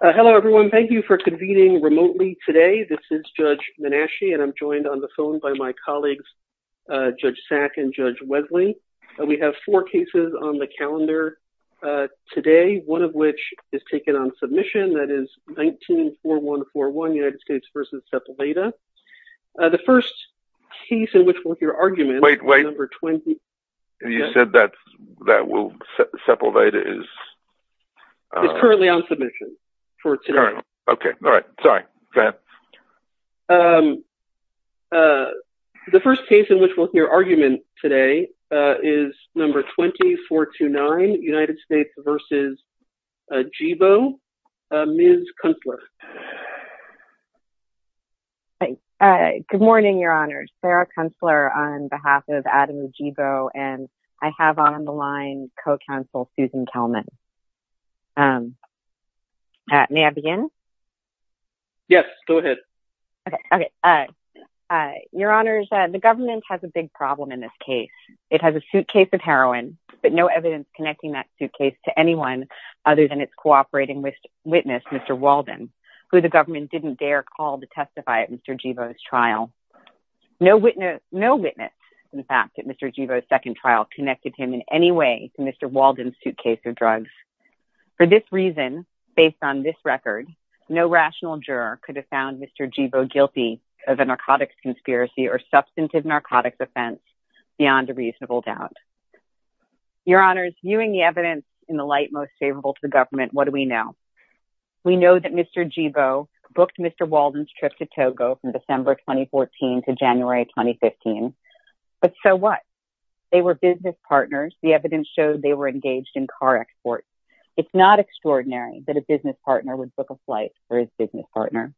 Hello, everyone. Thank you for convening remotely today. This is Judge Menashe, and I'm joined on the phone by my colleagues, Judge Sack and Judge Wesley. We have four cases on the calendar today, one of which is taken on submission, that is 19-4141, United States v. Sepulveda. The first case in which we'll hear arguments- Wait, wait. You said that Sepulveda is- It's currently on submission for today. Okay. All right. Sorry. Go ahead. The first case in which we'll hear arguments today is number 2429, United States v. Djibo. Ms. Kunstler. Good morning, Your Honors. Sarah Kunstler on behalf of Adam Djibo, and I have on the line co-counsel Susan Kelman. May I begin? Yes, go ahead. Okay. Your Honors, the government has a big problem in this case. It has a suitcase of heroin, but no evidence connecting that suitcase to anyone other than its cooperating witness, Mr. Walden, who the government didn't dare call to testify at Mr. Djibo's trial. No witness, in fact, at Mr. Djibo's second trial connected him in any way to Mr. Walden's suitcase of drugs. For this reason, based on this record, no rational juror could have found Mr. Djibo guilty of a narcotics conspiracy or substantive narcotics offense beyond a reasonable doubt. Your Honors, viewing the evidence in the light most favorable to the government, what do we know? We know that Mr. Djibo booked Mr. Walden's trip to Togo from December 2014 to January 2015. But so what? They were business partners. The evidence showed they were engaged in car exports. It's not extraordinary that a business partner would book a flight for his business partner.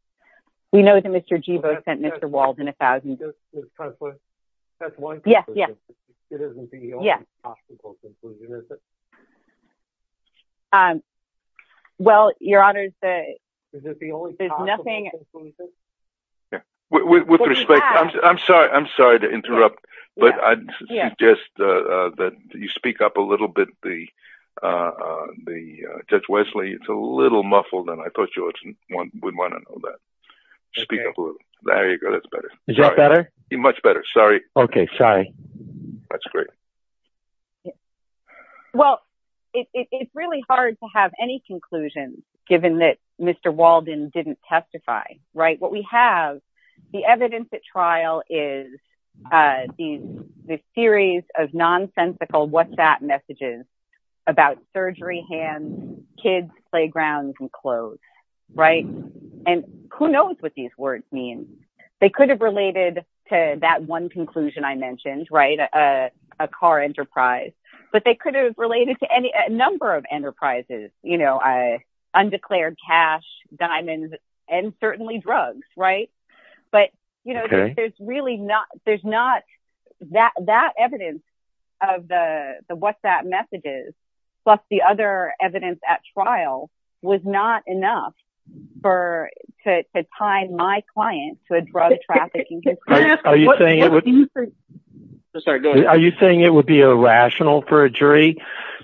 We know that Mr. Djibo sent Mr. Walden $1,000. Ms. Kunstler, that's one conclusion. It isn't the only possible conclusion, is it? With respect, I'm sorry to interrupt, but I'd suggest that you speak up a little bit. Judge Wesley, it's a little muffled, and I thought you would want to know that. Speak up a little. There you go. That's better. Is that better? Much better. Sorry. Okay. Sorry. That's great. Well, I think that's all I have to say, Your Honor. It's really hard to have any conclusions, given that Mr. Walden didn't testify, right? What we have, the evidence at trial is this series of nonsensical what's that messages about surgery, hands, kids, playgrounds, and clothes, right? And who knows what these words mean? They could have related to that one conclusion I mentioned, a car enterprise, but they could have related to any number of enterprises, undeclared cash, diamonds, and certainly drugs, right? But there's not that evidence of the what's that messages, plus the other evidence at trial was not enough to tie my client to a drug trafficking case. Are you saying it would be irrational for a jury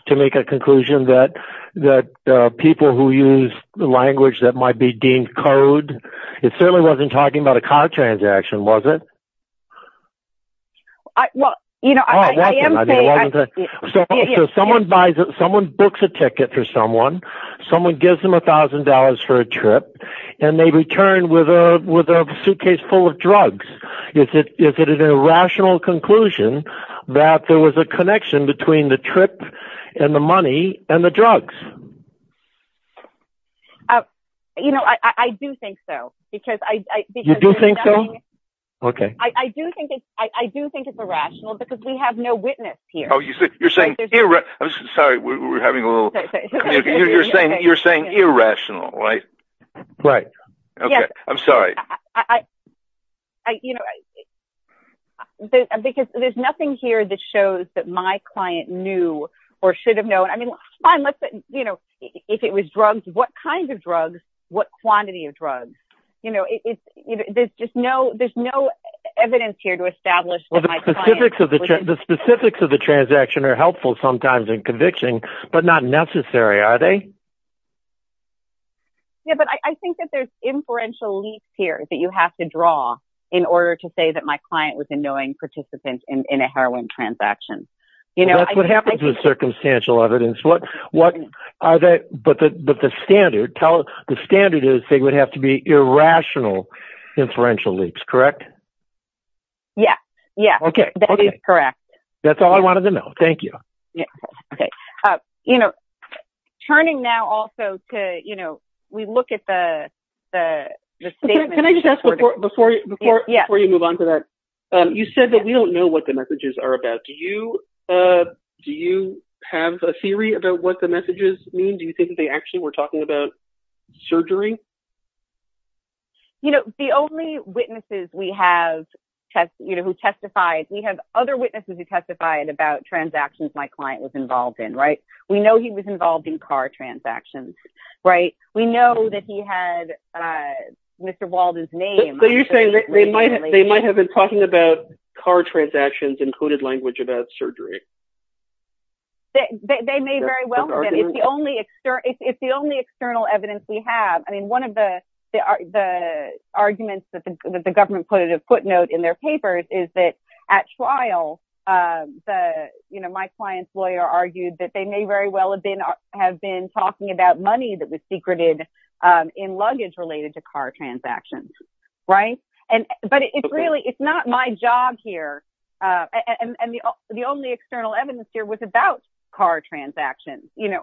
to make a conclusion that people who use the language that might be deemed code, it certainly wasn't talking about a car transaction, was it? Well, you know, I am saying. Someone buys it. Someone books a ticket for someone. Someone gives them $1,000 for a trip, and they return with a suitcase full of drugs. Is it an irrational conclusion that there was a connection between the trip and the money and the drugs? You know, I do think so, because I... You do think so? Okay. I do think it's irrational because we have no witness here. Oh, you're saying... Sorry, we're having a little... You're saying irrational, right? Right. Okay. I'm sorry. I, you know... Because there's nothing here that shows that my client knew or should have known. I mean, fine, let's... You know, if it was drugs, what kinds of drugs? What quantity of drugs? You know, there's just no... There's no evidence here to establish that my client... Well, the specifics of the transaction are helpful sometimes in conviction, but not necessary, are they? Yeah, but I think that there's inferential leaps here that you have to draw in order to say that my client was a knowing participant in a heroin transaction. Well, that's what happens with circumstantial evidence. What are the... But the standard is they would have to be irrational inferential leaps, correct? Yeah. Yeah. Okay. Okay. That is correct. That's all I wanted to know. Thank you. Yeah. Okay. You know, turning now also to, you know... We look at the statement... Can I just ask before you move on to that? You said that we don't know what the messages are about. Do you have a theory about what the messages mean? Do you think that they actually were talking about surgery? You know, the only witnesses we have who testified... We have other witnesses who testified about transactions my client was involved in, right? We know he was involved in car transactions, right? We know that he had Mr. Walden's name... So you're saying that they might have been talking about car transactions and coded language about surgery? They may very well have been. It's the only external evidence we have. I mean, one of the arguments that the government put in a footnote in their papers is that at trial, my client's lawyer argued that they may very well have been talking about money that was secreted in luggage related to car transactions, right? But it's really... It's not my job here... And the only external evidence here was about car transactions, you know?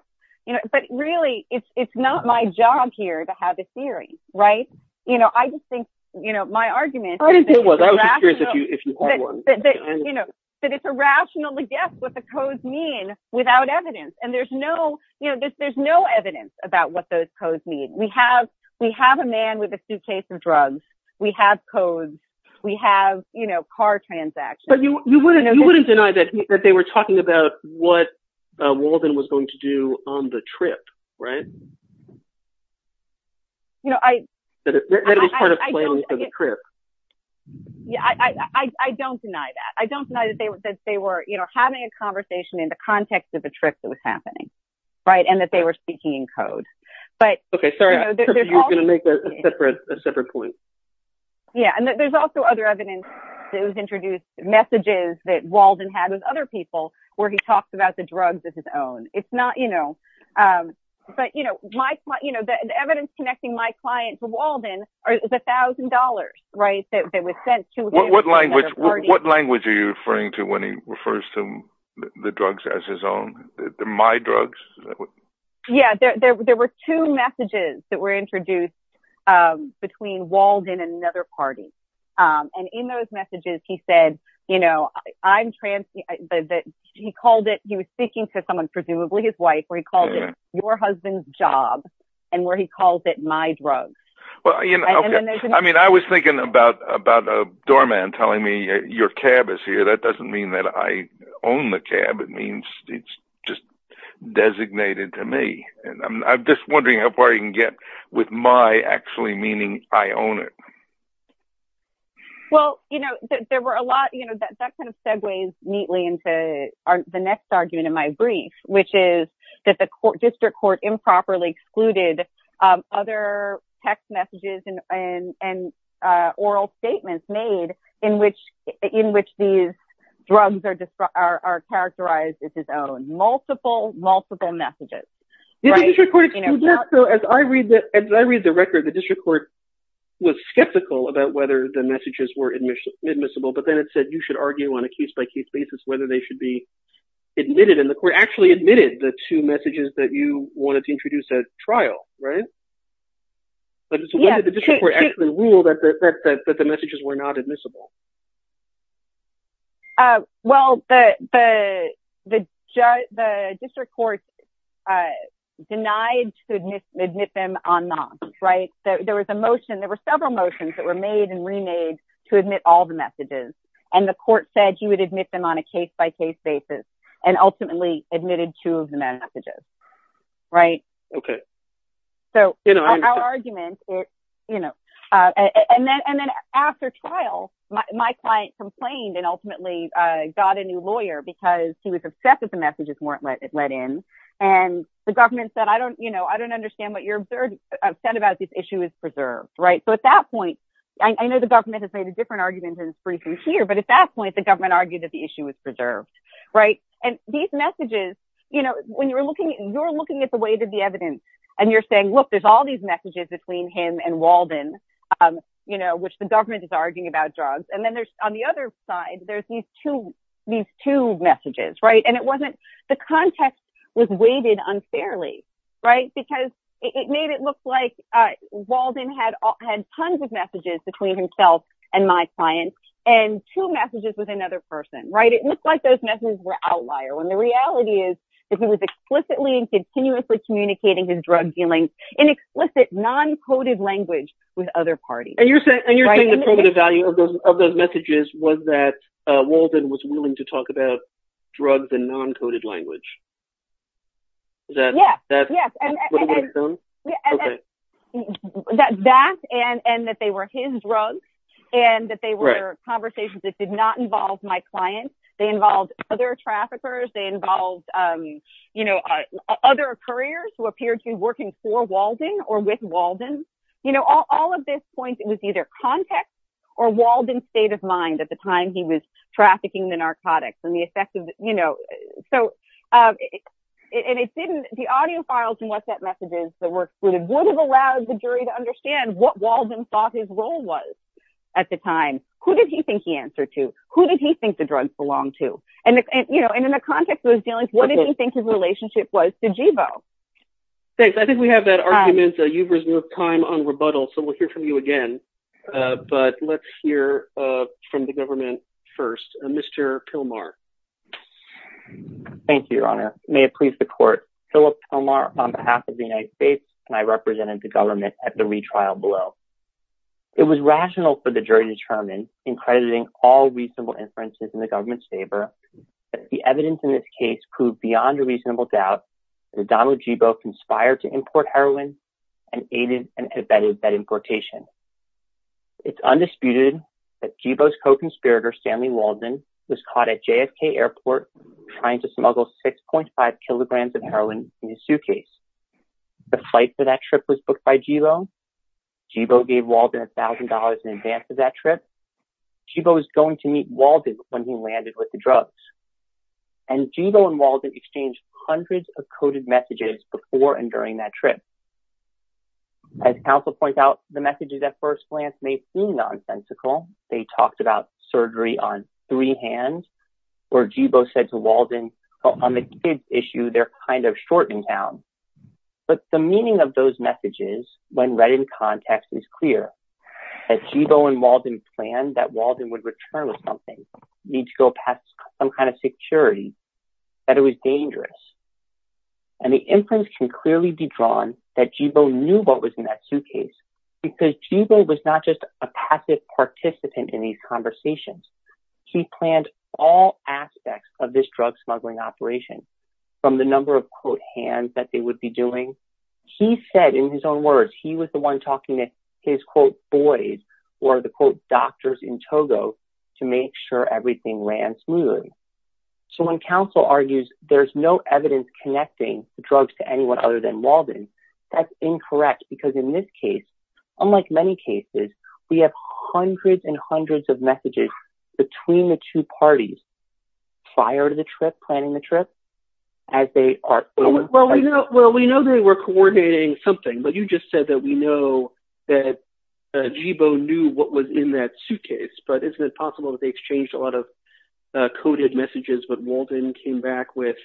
But really, it's not my job here to have a theory, right? You know, I just think, you know, my argument... I was just curious if you had one. That it's irrational to guess what the codes mean without evidence. And there's no, you know, there's no evidence about what those codes mean. We have a man with a suitcase of drugs. We have codes. We have, you know, car transactions. But you wouldn't deny that they were talking about what Walden was going to do on the trip, right? You know, I... That it was part of planning for the trip. Yeah, I don't deny that. I don't deny that they were, you know, having a conversation in the context of a trip that was happening, right? And that they were speaking in code. But... Okay, sorry, I thought you were going to make a separate point. Yeah, and there's also other evidence that was introduced, messages that Walden had with other people, where he talks about the drugs of his own. It's not, you know... But, you know, the evidence connecting my client to Walden is $1,000, right? What language are you referring to when he refers to the drugs as his own? My drugs? Yeah, there were two messages that were introduced between Walden and another party. And in those messages, he said, you know, I'm trans... He called it... He was speaking to someone, presumably his wife, where he called it your husband's job, and where he calls it my drugs. Well, you know, okay. I mean, I was thinking about a doorman telling me your cab is here. That doesn't mean that I own the cab. It means it's just designated to me. And I'm just wondering how far you can get with my actually meaning I own it. Well, you know, there were a lot... You know, that kind of segues neatly into the next argument in my brief, which is that the district court improperly excluded other text messages and oral statements made in which these drugs are characterized as his own. Multiple, multiple messages. So as I read the record, the district court was skeptical about whether the messages were admissible, but then it said you should argue on a case-by-case basis whether they should be admitted, and the court actually admitted the two messages that you wanted to introduce at trial, right? But so why did the district court actually rule that the messages were not admissible? Well, the district court denied to admit them en masse, right? There was a motion. There were several motions that were made and remade to admit all the messages, and the court said you would admit them on a case-by-case basis. And ultimately admitted two of the messages, right? Okay. So our argument, you know, and then after trial, my client complained and ultimately got a new lawyer because he was upset that the messages weren't let in. And the government said, I don't, you know, I don't understand what you're upset about. This issue is preserved, right? So at that point, I know the government has made a different argument in this briefing here, but at that point, the government argued that the issue was preserved, right? And these messages, you know, when you're looking, you're looking at the weight of the evidence and you're saying, look, there's all these messages between him and Walden, you know, which the government is arguing about drugs. And then there's on the other side, there's these two, these two messages, right? And it wasn't, the context was weighted unfairly, right? Because it made it look like Walden had tons of messages between himself and my client and two messages with another person, right? Looks like those messages were outlier when the reality is, if he was explicitly and continuously communicating his drug dealing in explicit non-coded language with other parties. And you're saying, and you're saying the primitive value of those, of those messages was that Walden was willing to talk about drugs and non-coded language. That, that, that, and that, and that they were his drugs and that they were conversations that did not involve my client. They involved other traffickers. They involved, you know, other couriers who appeared to be working for Walden or with Walden. You know, all of this point, it was either context or Walden's state of mind at the time he was trafficking the narcotics and the effect of, you know, so, and it didn't, the audio files and what that message is, the work would have allowed the jury to understand what Walden thought his role was at the time. Who did he think he answered to? Who did he think the drugs belong to? And, and, you know, and in the context of his dealings, what did he think his relationship was to Jibo? Thanks. I think we have that argument. You've reserved time on rebuttal, so we'll hear from you again. But let's hear from the government first. Mr. Pilmar. Thank you, Your Honor. May it please the court. Philip Pilmar on behalf of the United States, and I represented the government at the retrial below. It was rational for the jury to determine, in crediting all reasonable inferences in the government's favor, that the evidence in this case proved beyond a reasonable doubt that Donald Jibo conspired to import heroin and aided and abetted that importation. It's undisputed that Jibo's co-conspirator, Stanley Walden, was caught at JFK airport trying to smuggle 6.5 kilograms of heroin in his suitcase. The flight for that trip was booked by Jibo. Jibo gave Walden $1,000 in advance of that trip. Jibo was going to meet Walden when he landed with the drugs. And Jibo and Walden exchanged hundreds of coded messages before and during that trip. As counsel points out, the messages at first glance may seem nonsensical. They talked about surgery on three hands, or Jibo said to Walden, on the kids issue, they're kind of short in town. But the meaning of those messages, when read in context, is clear. As Jibo and Walden planned that Walden would return with something, need to go past some kind of security, that it was dangerous. And the inference can clearly be drawn that Jibo knew what was in that suitcase because Jibo was not just a passive participant in these conversations. He planned all aspects of this drug smuggling operation, from the number of, quote, hands that they would be doing. He said in his own words, he was the one talking to his, quote, boys, or the, quote, doctors in Togo to make sure everything ran smoothly. So when counsel argues there's no evidence connecting the drugs to anyone other than Walden, that's incorrect. Because in this case, unlike many cases, we have hundreds and hundreds of messages between the two parties. Prior to the trip, planning the trip, as they are... Well, we know they were coordinating something, but you just said that we know that Jibo knew what was in that suitcase. But isn't it possible that they exchanged a lot of coded messages, but Walden came back with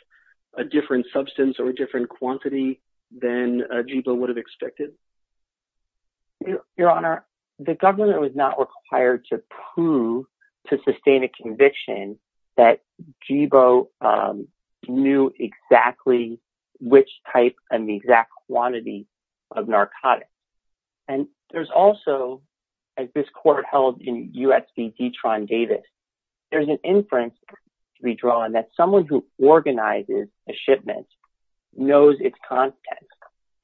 a different substance or a different quantity than Jibo would have expected? Your Honor, the governor was not required to prove, to sustain a conviction that Jibo knew exactly which type and the exact quantity of narcotics. And there's also, as this court held in U.S. v. Detron Davis, there's an inference to be drawn that someone who organizes a shipment knows its content.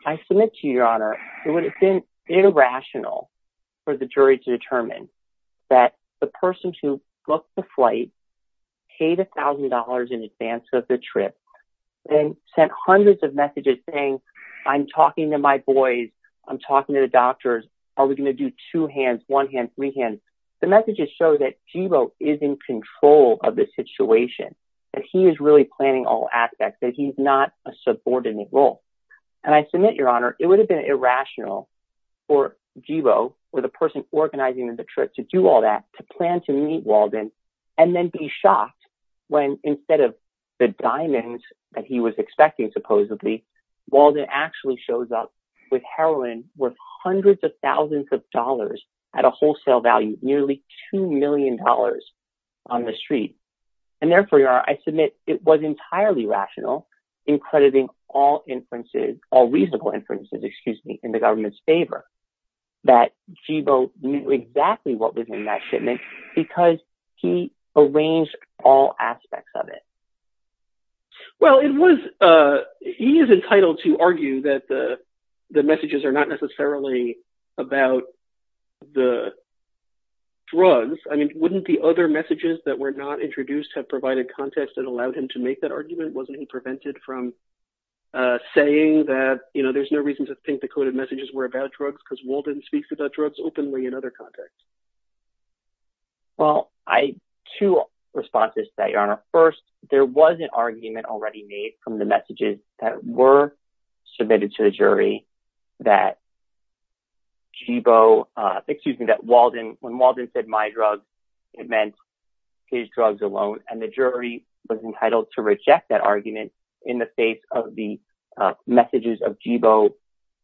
I submit to you, Your Honor, it would have been irrational for the jury to determine that the person who booked the flight paid $1,000 in advance of the trip and sent hundreds of messages saying, I'm talking to my boys, I'm talking to the doctors, are we going to do two hands, one hand, three hands? The messages show that Jibo is in control of the situation, that he is really planning all aspects, that he's not a subordinate role. And I submit, Your Honor, it would have been irrational for Jibo or the person organizing the trip to do all that, to plan to meet Walden, and then be shocked when instead of the diamonds that he was expecting, supposedly, Walden actually shows up with heroin worth hundreds of thousands of dollars at a wholesale value, nearly $2 million on the street. And therefore, Your Honor, I submit it was entirely rational in crediting all inferences, all reasonable inferences, excuse me, in the government's favor, that Jibo knew exactly what was in that shipment, because he arranged all aspects of it. Well, he is entitled to argue that the messages are not necessarily about the drugs. I mean, wouldn't the other messages that were not introduced have provided context that allowed him to make that argument? Wasn't he prevented from saying that, you know, there's no reason to think the coded messages were about drugs, because Walden speaks about drugs openly in other contexts? Well, two responses to that, Your Honor. First, there was an argument already made from the messages that were submitted to the jury that Jibo, excuse me, that Walden, when Walden said my drugs, it meant his drugs alone. And the jury was entitled to reject that argument in the face of the messages of Jibo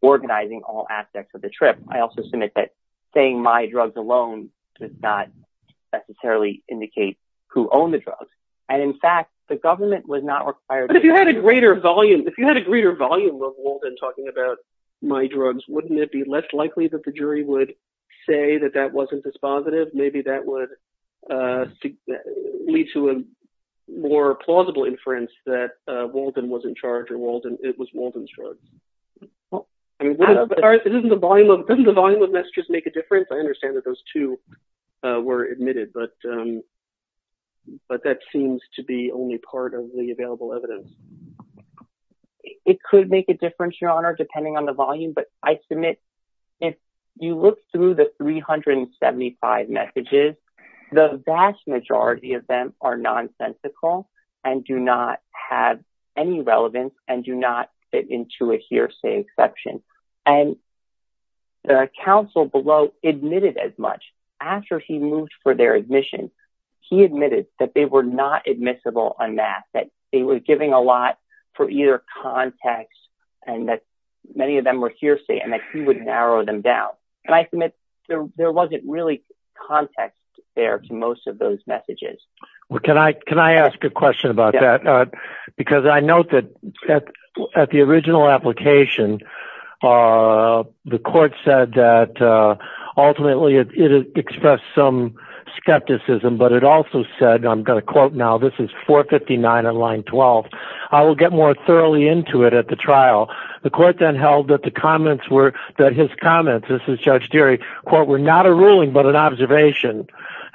organizing all aspects of the trip. I also submit that saying my drugs alone does not necessarily indicate who owned the drugs. And in fact, the government was not required to- But if you had a greater volume, if you had a greater volume of Walden talking about my drugs, wouldn't it be less likely that the jury would say that that wasn't dispositive? Maybe that would lead to a more plausible inference that Walden wasn't charged, or it was Walden's drugs. Doesn't the volume of messages make a difference? I understand that those two were admitted. But that seems to be only part of the available evidence. It could make a difference, Your Honor, depending on the volume. But I submit, if you look through the 375 messages, the vast majority of them are nonsensical and do not have any relevance and do not fit into a hearsay exception. And the counsel below admitted as much. After he moved for their admission, he admitted that they were not admissible en masse, that he was giving a lot for either context and that many of them were hearsay and that he would narrow them down. And I submit there wasn't really context there to most of those messages. Well, can I ask a question about that? Because I note that at the original application, the court said that ultimately it expressed some skepticism. But it also said, I'm going to quote now, this is 459 on line 12. I will get more thoroughly into it at the trial. The court then held that the comments were, that his comments, this is Judge Deary, were not a ruling but an observation.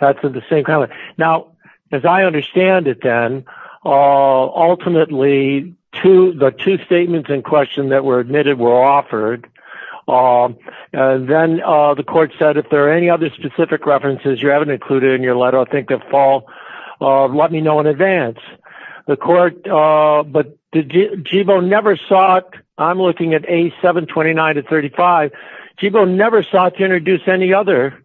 Now, as I understand it then, ultimately the two statements in question that were admitted were offered. Then the court said, if there are any other specific references you haven't included in your letter, I think they'll fall, let me know in advance. The court, but did Jibo never sought, I'm looking at A729 to 35, Jibo never sought to introduce any other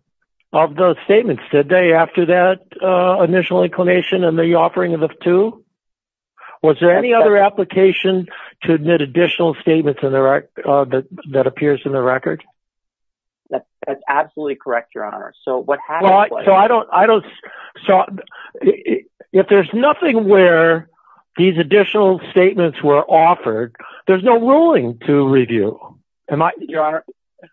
of those statements, did they, after that initial inclination and the offering of the two? Was there any other application to admit additional statements that appears in the record? That's absolutely correct, Your Honor. So what happened was- So I don't, I don't, if there's nothing where these additional statements were offered, there's no ruling to review, am I- Your Honor,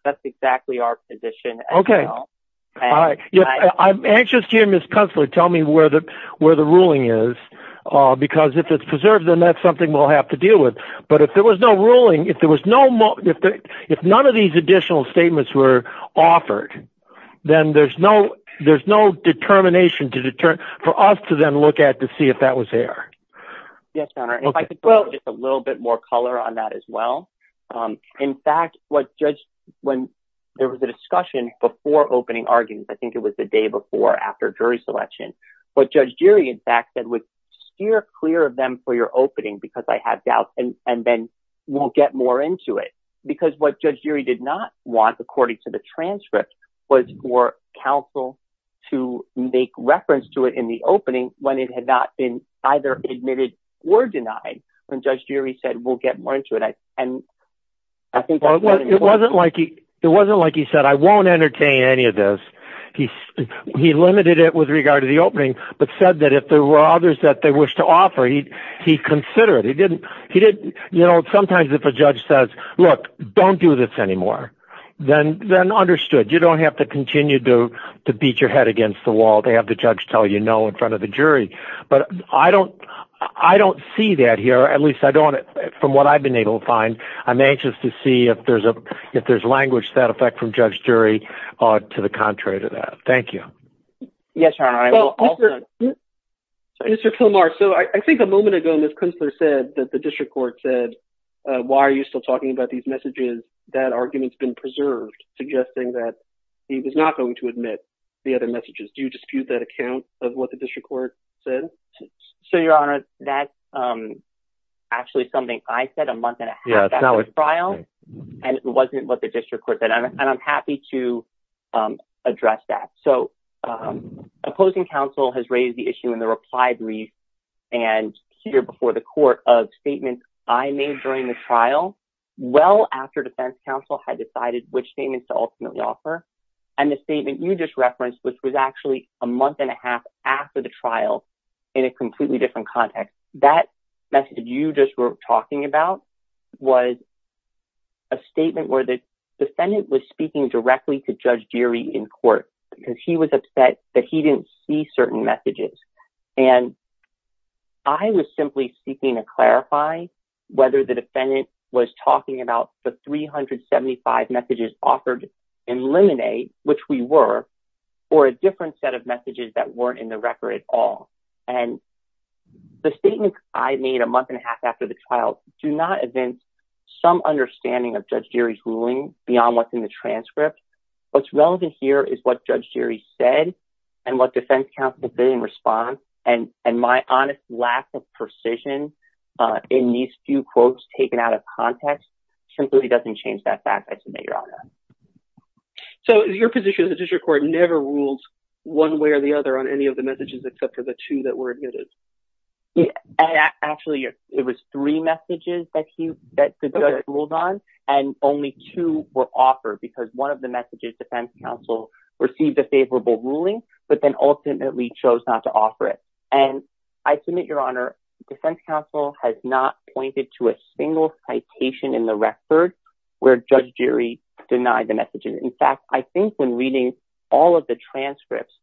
that's exactly our position as well. Okay, I'm anxious to hear Ms. Kunstler tell me where the, where the ruling is, because if it's preserved, then that's something we'll have to deal with. But if there was no ruling, if there was no, if none of these additional statements were offered, then there's no, there's no determination to deter, for us to then look at to see if that was there. Yes, Your Honor, if I could put just a little bit more color on that as well. In fact, what Judge, when there was a discussion before opening arguments, I think it was the day before, after jury selection, what Judge Geary in fact said was, steer clear of them for your opening, because I have doubts, and then we'll get more into it. Because what Judge Geary did not want, according to the transcript, was for counsel to make reference to it in the opening when it had not been either admitted or denied, when Judge Geary said, we'll get more into it. And I think- It wasn't like he, it wasn't like he said, I won't entertain any of this. He limited it with regard to the opening, but said that if there were others that they wish to offer, he'd consider it. You know, sometimes if a judge says, look, don't do this anymore, then understood. You don't have to continue to beat your head against the wall to have the judge tell you no in front of the jury. But I don't see that here, at least I don't, from what I've been able to find. I'm anxious to see if there's language to that effect from Judge Geary to the contrary to that. Thank you. Yes, Your Honor. Well, Mr. Kilmar, so I think a moment ago, Ms. Kunstler said that the district court said, why are you still talking about these messages? That argument's been preserved, suggesting that he was not going to admit the other messages. Do you dispute that account of what the district court said? So, Your Honor, that's actually something I said a month and a half after the trial, and it wasn't what the district court said. And I'm happy to address that. So, opposing counsel has raised the issue in the reply brief and here before the court of statements I made during the trial, well after defense counsel had decided which statements to ultimately offer. And the statement you just referenced, which was actually a month and a half after the trial in a completely different context. That message you just were talking about was a statement where the defendant was speaking directly to Judge Geary in court because he was upset that he didn't see certain messages. And I was simply seeking to clarify whether the defendant was talking about the 375 messages offered in Lemonade, which we were, or a different set of messages that weren't in the record at all. And the statement I made a month and a half after the trial do not advance some understanding of Judge Geary's ruling beyond what's in the transcript. What's relevant here is what Judge Geary said and what defense counsel did in response. And my honest lack of precision in these few quotes taken out of context simply doesn't change that fact, I submit, Your Honor. So, your position is the district court never ruled one way or the other on any of the messages except for the two that were admitted? Yeah, actually, it was three messages that he ruled on and only two were offered because one of the messages defense counsel received a favorable ruling, but then ultimately chose not to offer it. And I submit, Your Honor, defense counsel has not pointed to a single citation in the record where Judge Geary denied the messages. In fact, I think when reading all of the transcripts,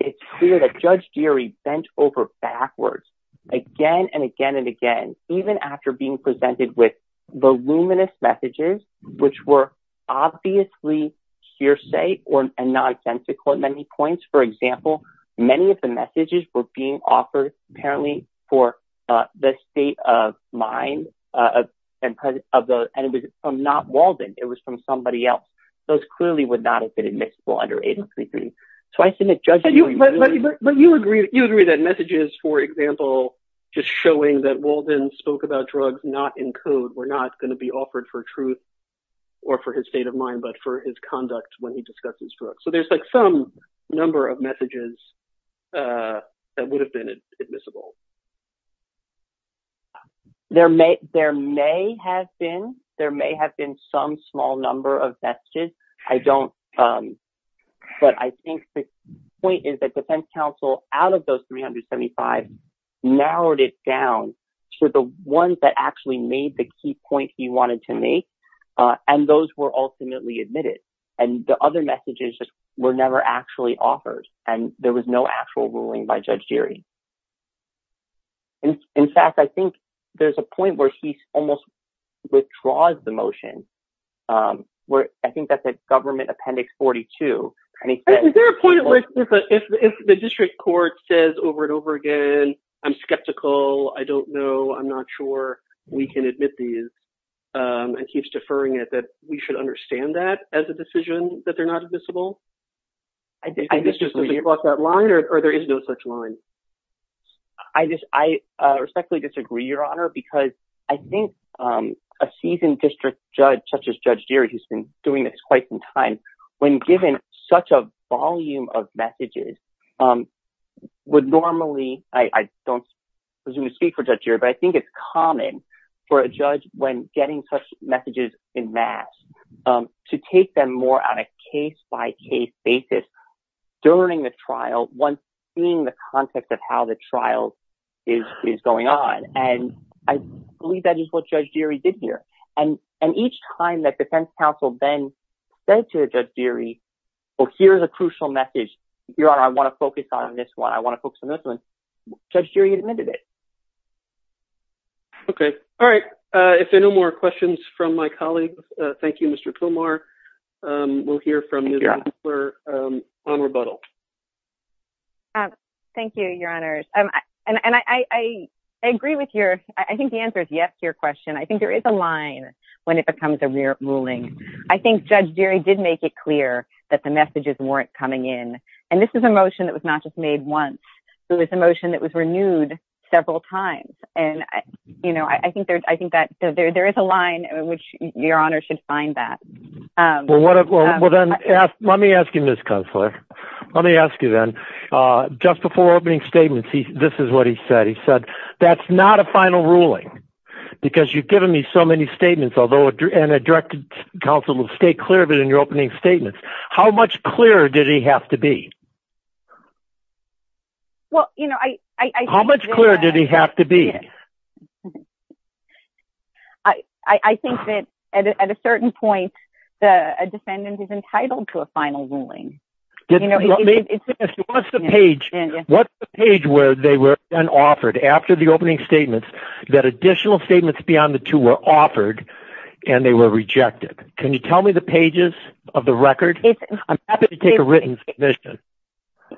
it's clear that Judge Geary bent over backwards again and again and again, even after being presented with voluminous messages, which were obviously hearsay and nonsensical at many points. For example, many of the messages were being offered, apparently for the state of mind and it was not Walden. It was from somebody else. Those clearly would not have been admissible under 833. So, I think that Judge Geary- But you agree that messages, for example, just showing that Walden spoke about drugs not in code were not going to be offered for truth or for his state of mind, but for his conduct when he discussed these drugs. So, there's like some number of messages that would have been admissible. There may have been some small number of messages. I don't, but I think the point is that defense counsel, out of those 375, narrowed it down to the ones that actually made the key point he wanted to make, and those were ultimately admitted. And the other messages were never actually offered, and there was no actual ruling by Judge Geary. In fact, I think there's a point where he almost withdraws the motion, where I think that's at Government Appendix 42. Is there a point where if the district court says over and over again, I'm skeptical, I don't know, I'm not sure, we can admit these, and keeps deferring it, that we should understand that as a decision that they're not admissible? I think this just doesn't cross that line, or there is no such line? I respectfully disagree, Your Honor, because I think a seasoned district judge, such as Judge Geary, who's been doing this quite some time, when given such a volume of messages, would normally, I don't presume to speak for Judge Geary, but I think it's common for a judge, when getting such messages en masse, to take them more on a case-by-case basis during the trial, once seeing the context of how the trial is going on, and I believe that is what Judge Geary did here. And each time that defense counsel then said to Judge Geary, well, here's a crucial message, Your Honor, I want to focus on this one, I want to focus on this one, Judge Geary admitted it. Okay. All right. If there are no more questions from my colleague, thank you, Mr. Pomar. We'll hear from Ms. Winkler on rebuttal. Thank you, Your Honors, and I agree with your, I think the answer is yes to your question. I think there is a line when it becomes a ruling. I think Judge Geary did make it clear that the messages weren't coming in, and this is a motion that was not just made once, it was a motion that was renewed several times, and I think that there is a line in which Your Honor should find that. Well, then let me ask you, Ms. Kunstler, let me ask you then, just before opening statements, this is what he said. He said, that's not a final ruling, because you've given me so many statements, and a directed counsel will stay clear of it in your opening statements. How much clearer did he have to be? Well, you know, I think that... How much clearer did he have to be? I think that at a certain point, a defendant is entitled to a final ruling. What's the page where they were then offered, after the opening statements, that additional statements beyond the two were offered, and they were rejected? Can you tell me the pages of the record? I'm happy to take a written submission.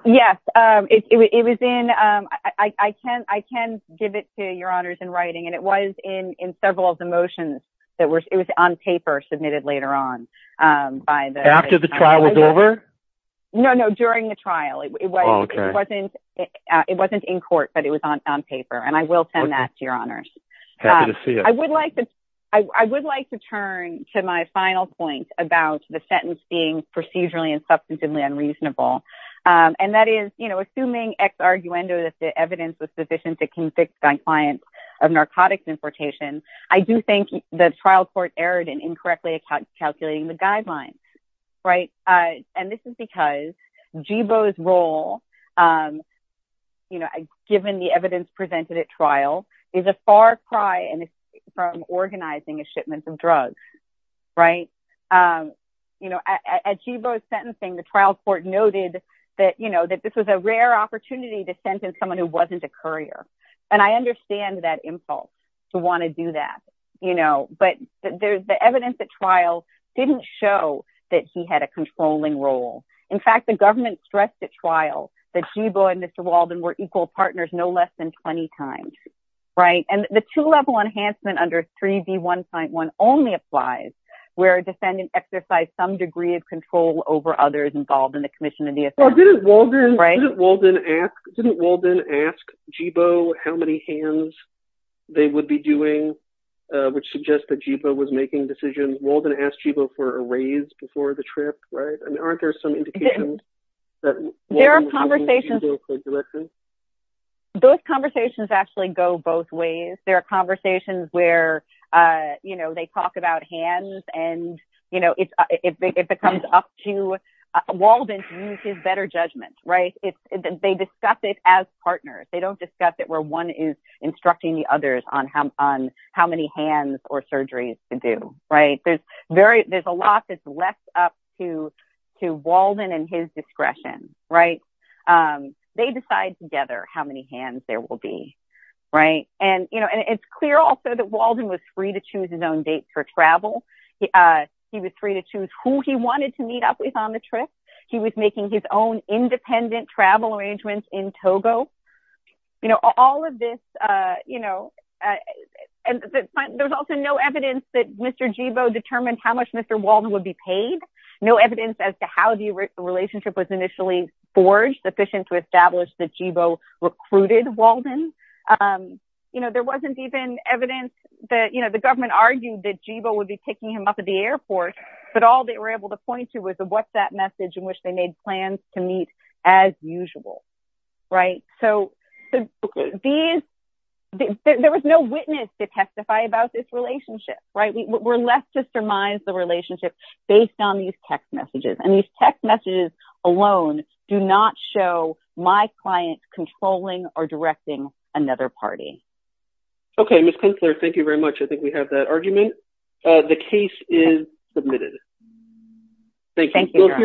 Yes, it was in, I can give it to Your Honors in writing, and it was in several of the motions that were, it was on paper submitted later on by the... After the trial was over? No, no, during the trial, it wasn't in court, but it was on paper, and I will send that to Your Honors. I would like to turn to my final point about the sentence being procedurally and substantively unreasonable, and that is, you know, assuming ex-arguendo that the evidence was sufficient to convict a client of narcotics importation, I do think the trial court erred in incorrectly calculating the guidelines, right? And this is because Jibo's role, you know, given the evidence presented at trial, is a far cry from organizing a shipment of drugs, right? You know, at Jibo's sentencing, the trial court noted that, you know, that this was a rare opportunity to sentence someone who wasn't a courier, and I understand that impulse to want to do that, you know, but the evidence at trial didn't show that he had a controlling role. In fact, the government stressed at trial that Jibo and Mr. Walden were equal partners no less than 20 times, right? The two-level enhancement under 3B151 only applies where a defendant exercised some degree of control over others involved in the commission of the offense. Well, didn't Walden ask Jibo how many hands they would be doing, which suggests that Jibo was making decisions? Walden asked Jibo for a raise before the trip, right? I mean, aren't there some indications that Walden was using Jibo for direction? Those conversations actually go both ways. There are conversations where, you know, they talk about hands and, you know, it becomes up to Walden to use his better judgment, right? They discuss it as partners. They don't discuss it where one is instructing the others on how many hands or surgeries to do, right? There's a lot that's left up to Walden and his discretion, right? They decide together how many hands there will be, right? And, you know, it's clear also that Walden was free to choose his own dates for travel. He was free to choose who he wanted to meet up with on the trip. He was making his own independent travel arrangements in Togo. You know, all of this, you know, and there's also no evidence that Mr. Jibo determined how much Mr. Walden would be paid. No evidence as to how the relationship was initially forged sufficient to establish that Jibo recruited Walden. You know, there wasn't even evidence that, you know, the government argued that Jibo would be picking him up at the airport, but all they were able to point to was a WhatsApp message in which they made plans to meet as usual, right? So there was no witness to testify about this relationship, right? We're left to surmise the relationship based on these text messages, and these text messages alone do not show my client controlling or directing another party. Okay, Ms. Kintzler, thank you very much. I think we have that argument. The case is submitted. Thank you.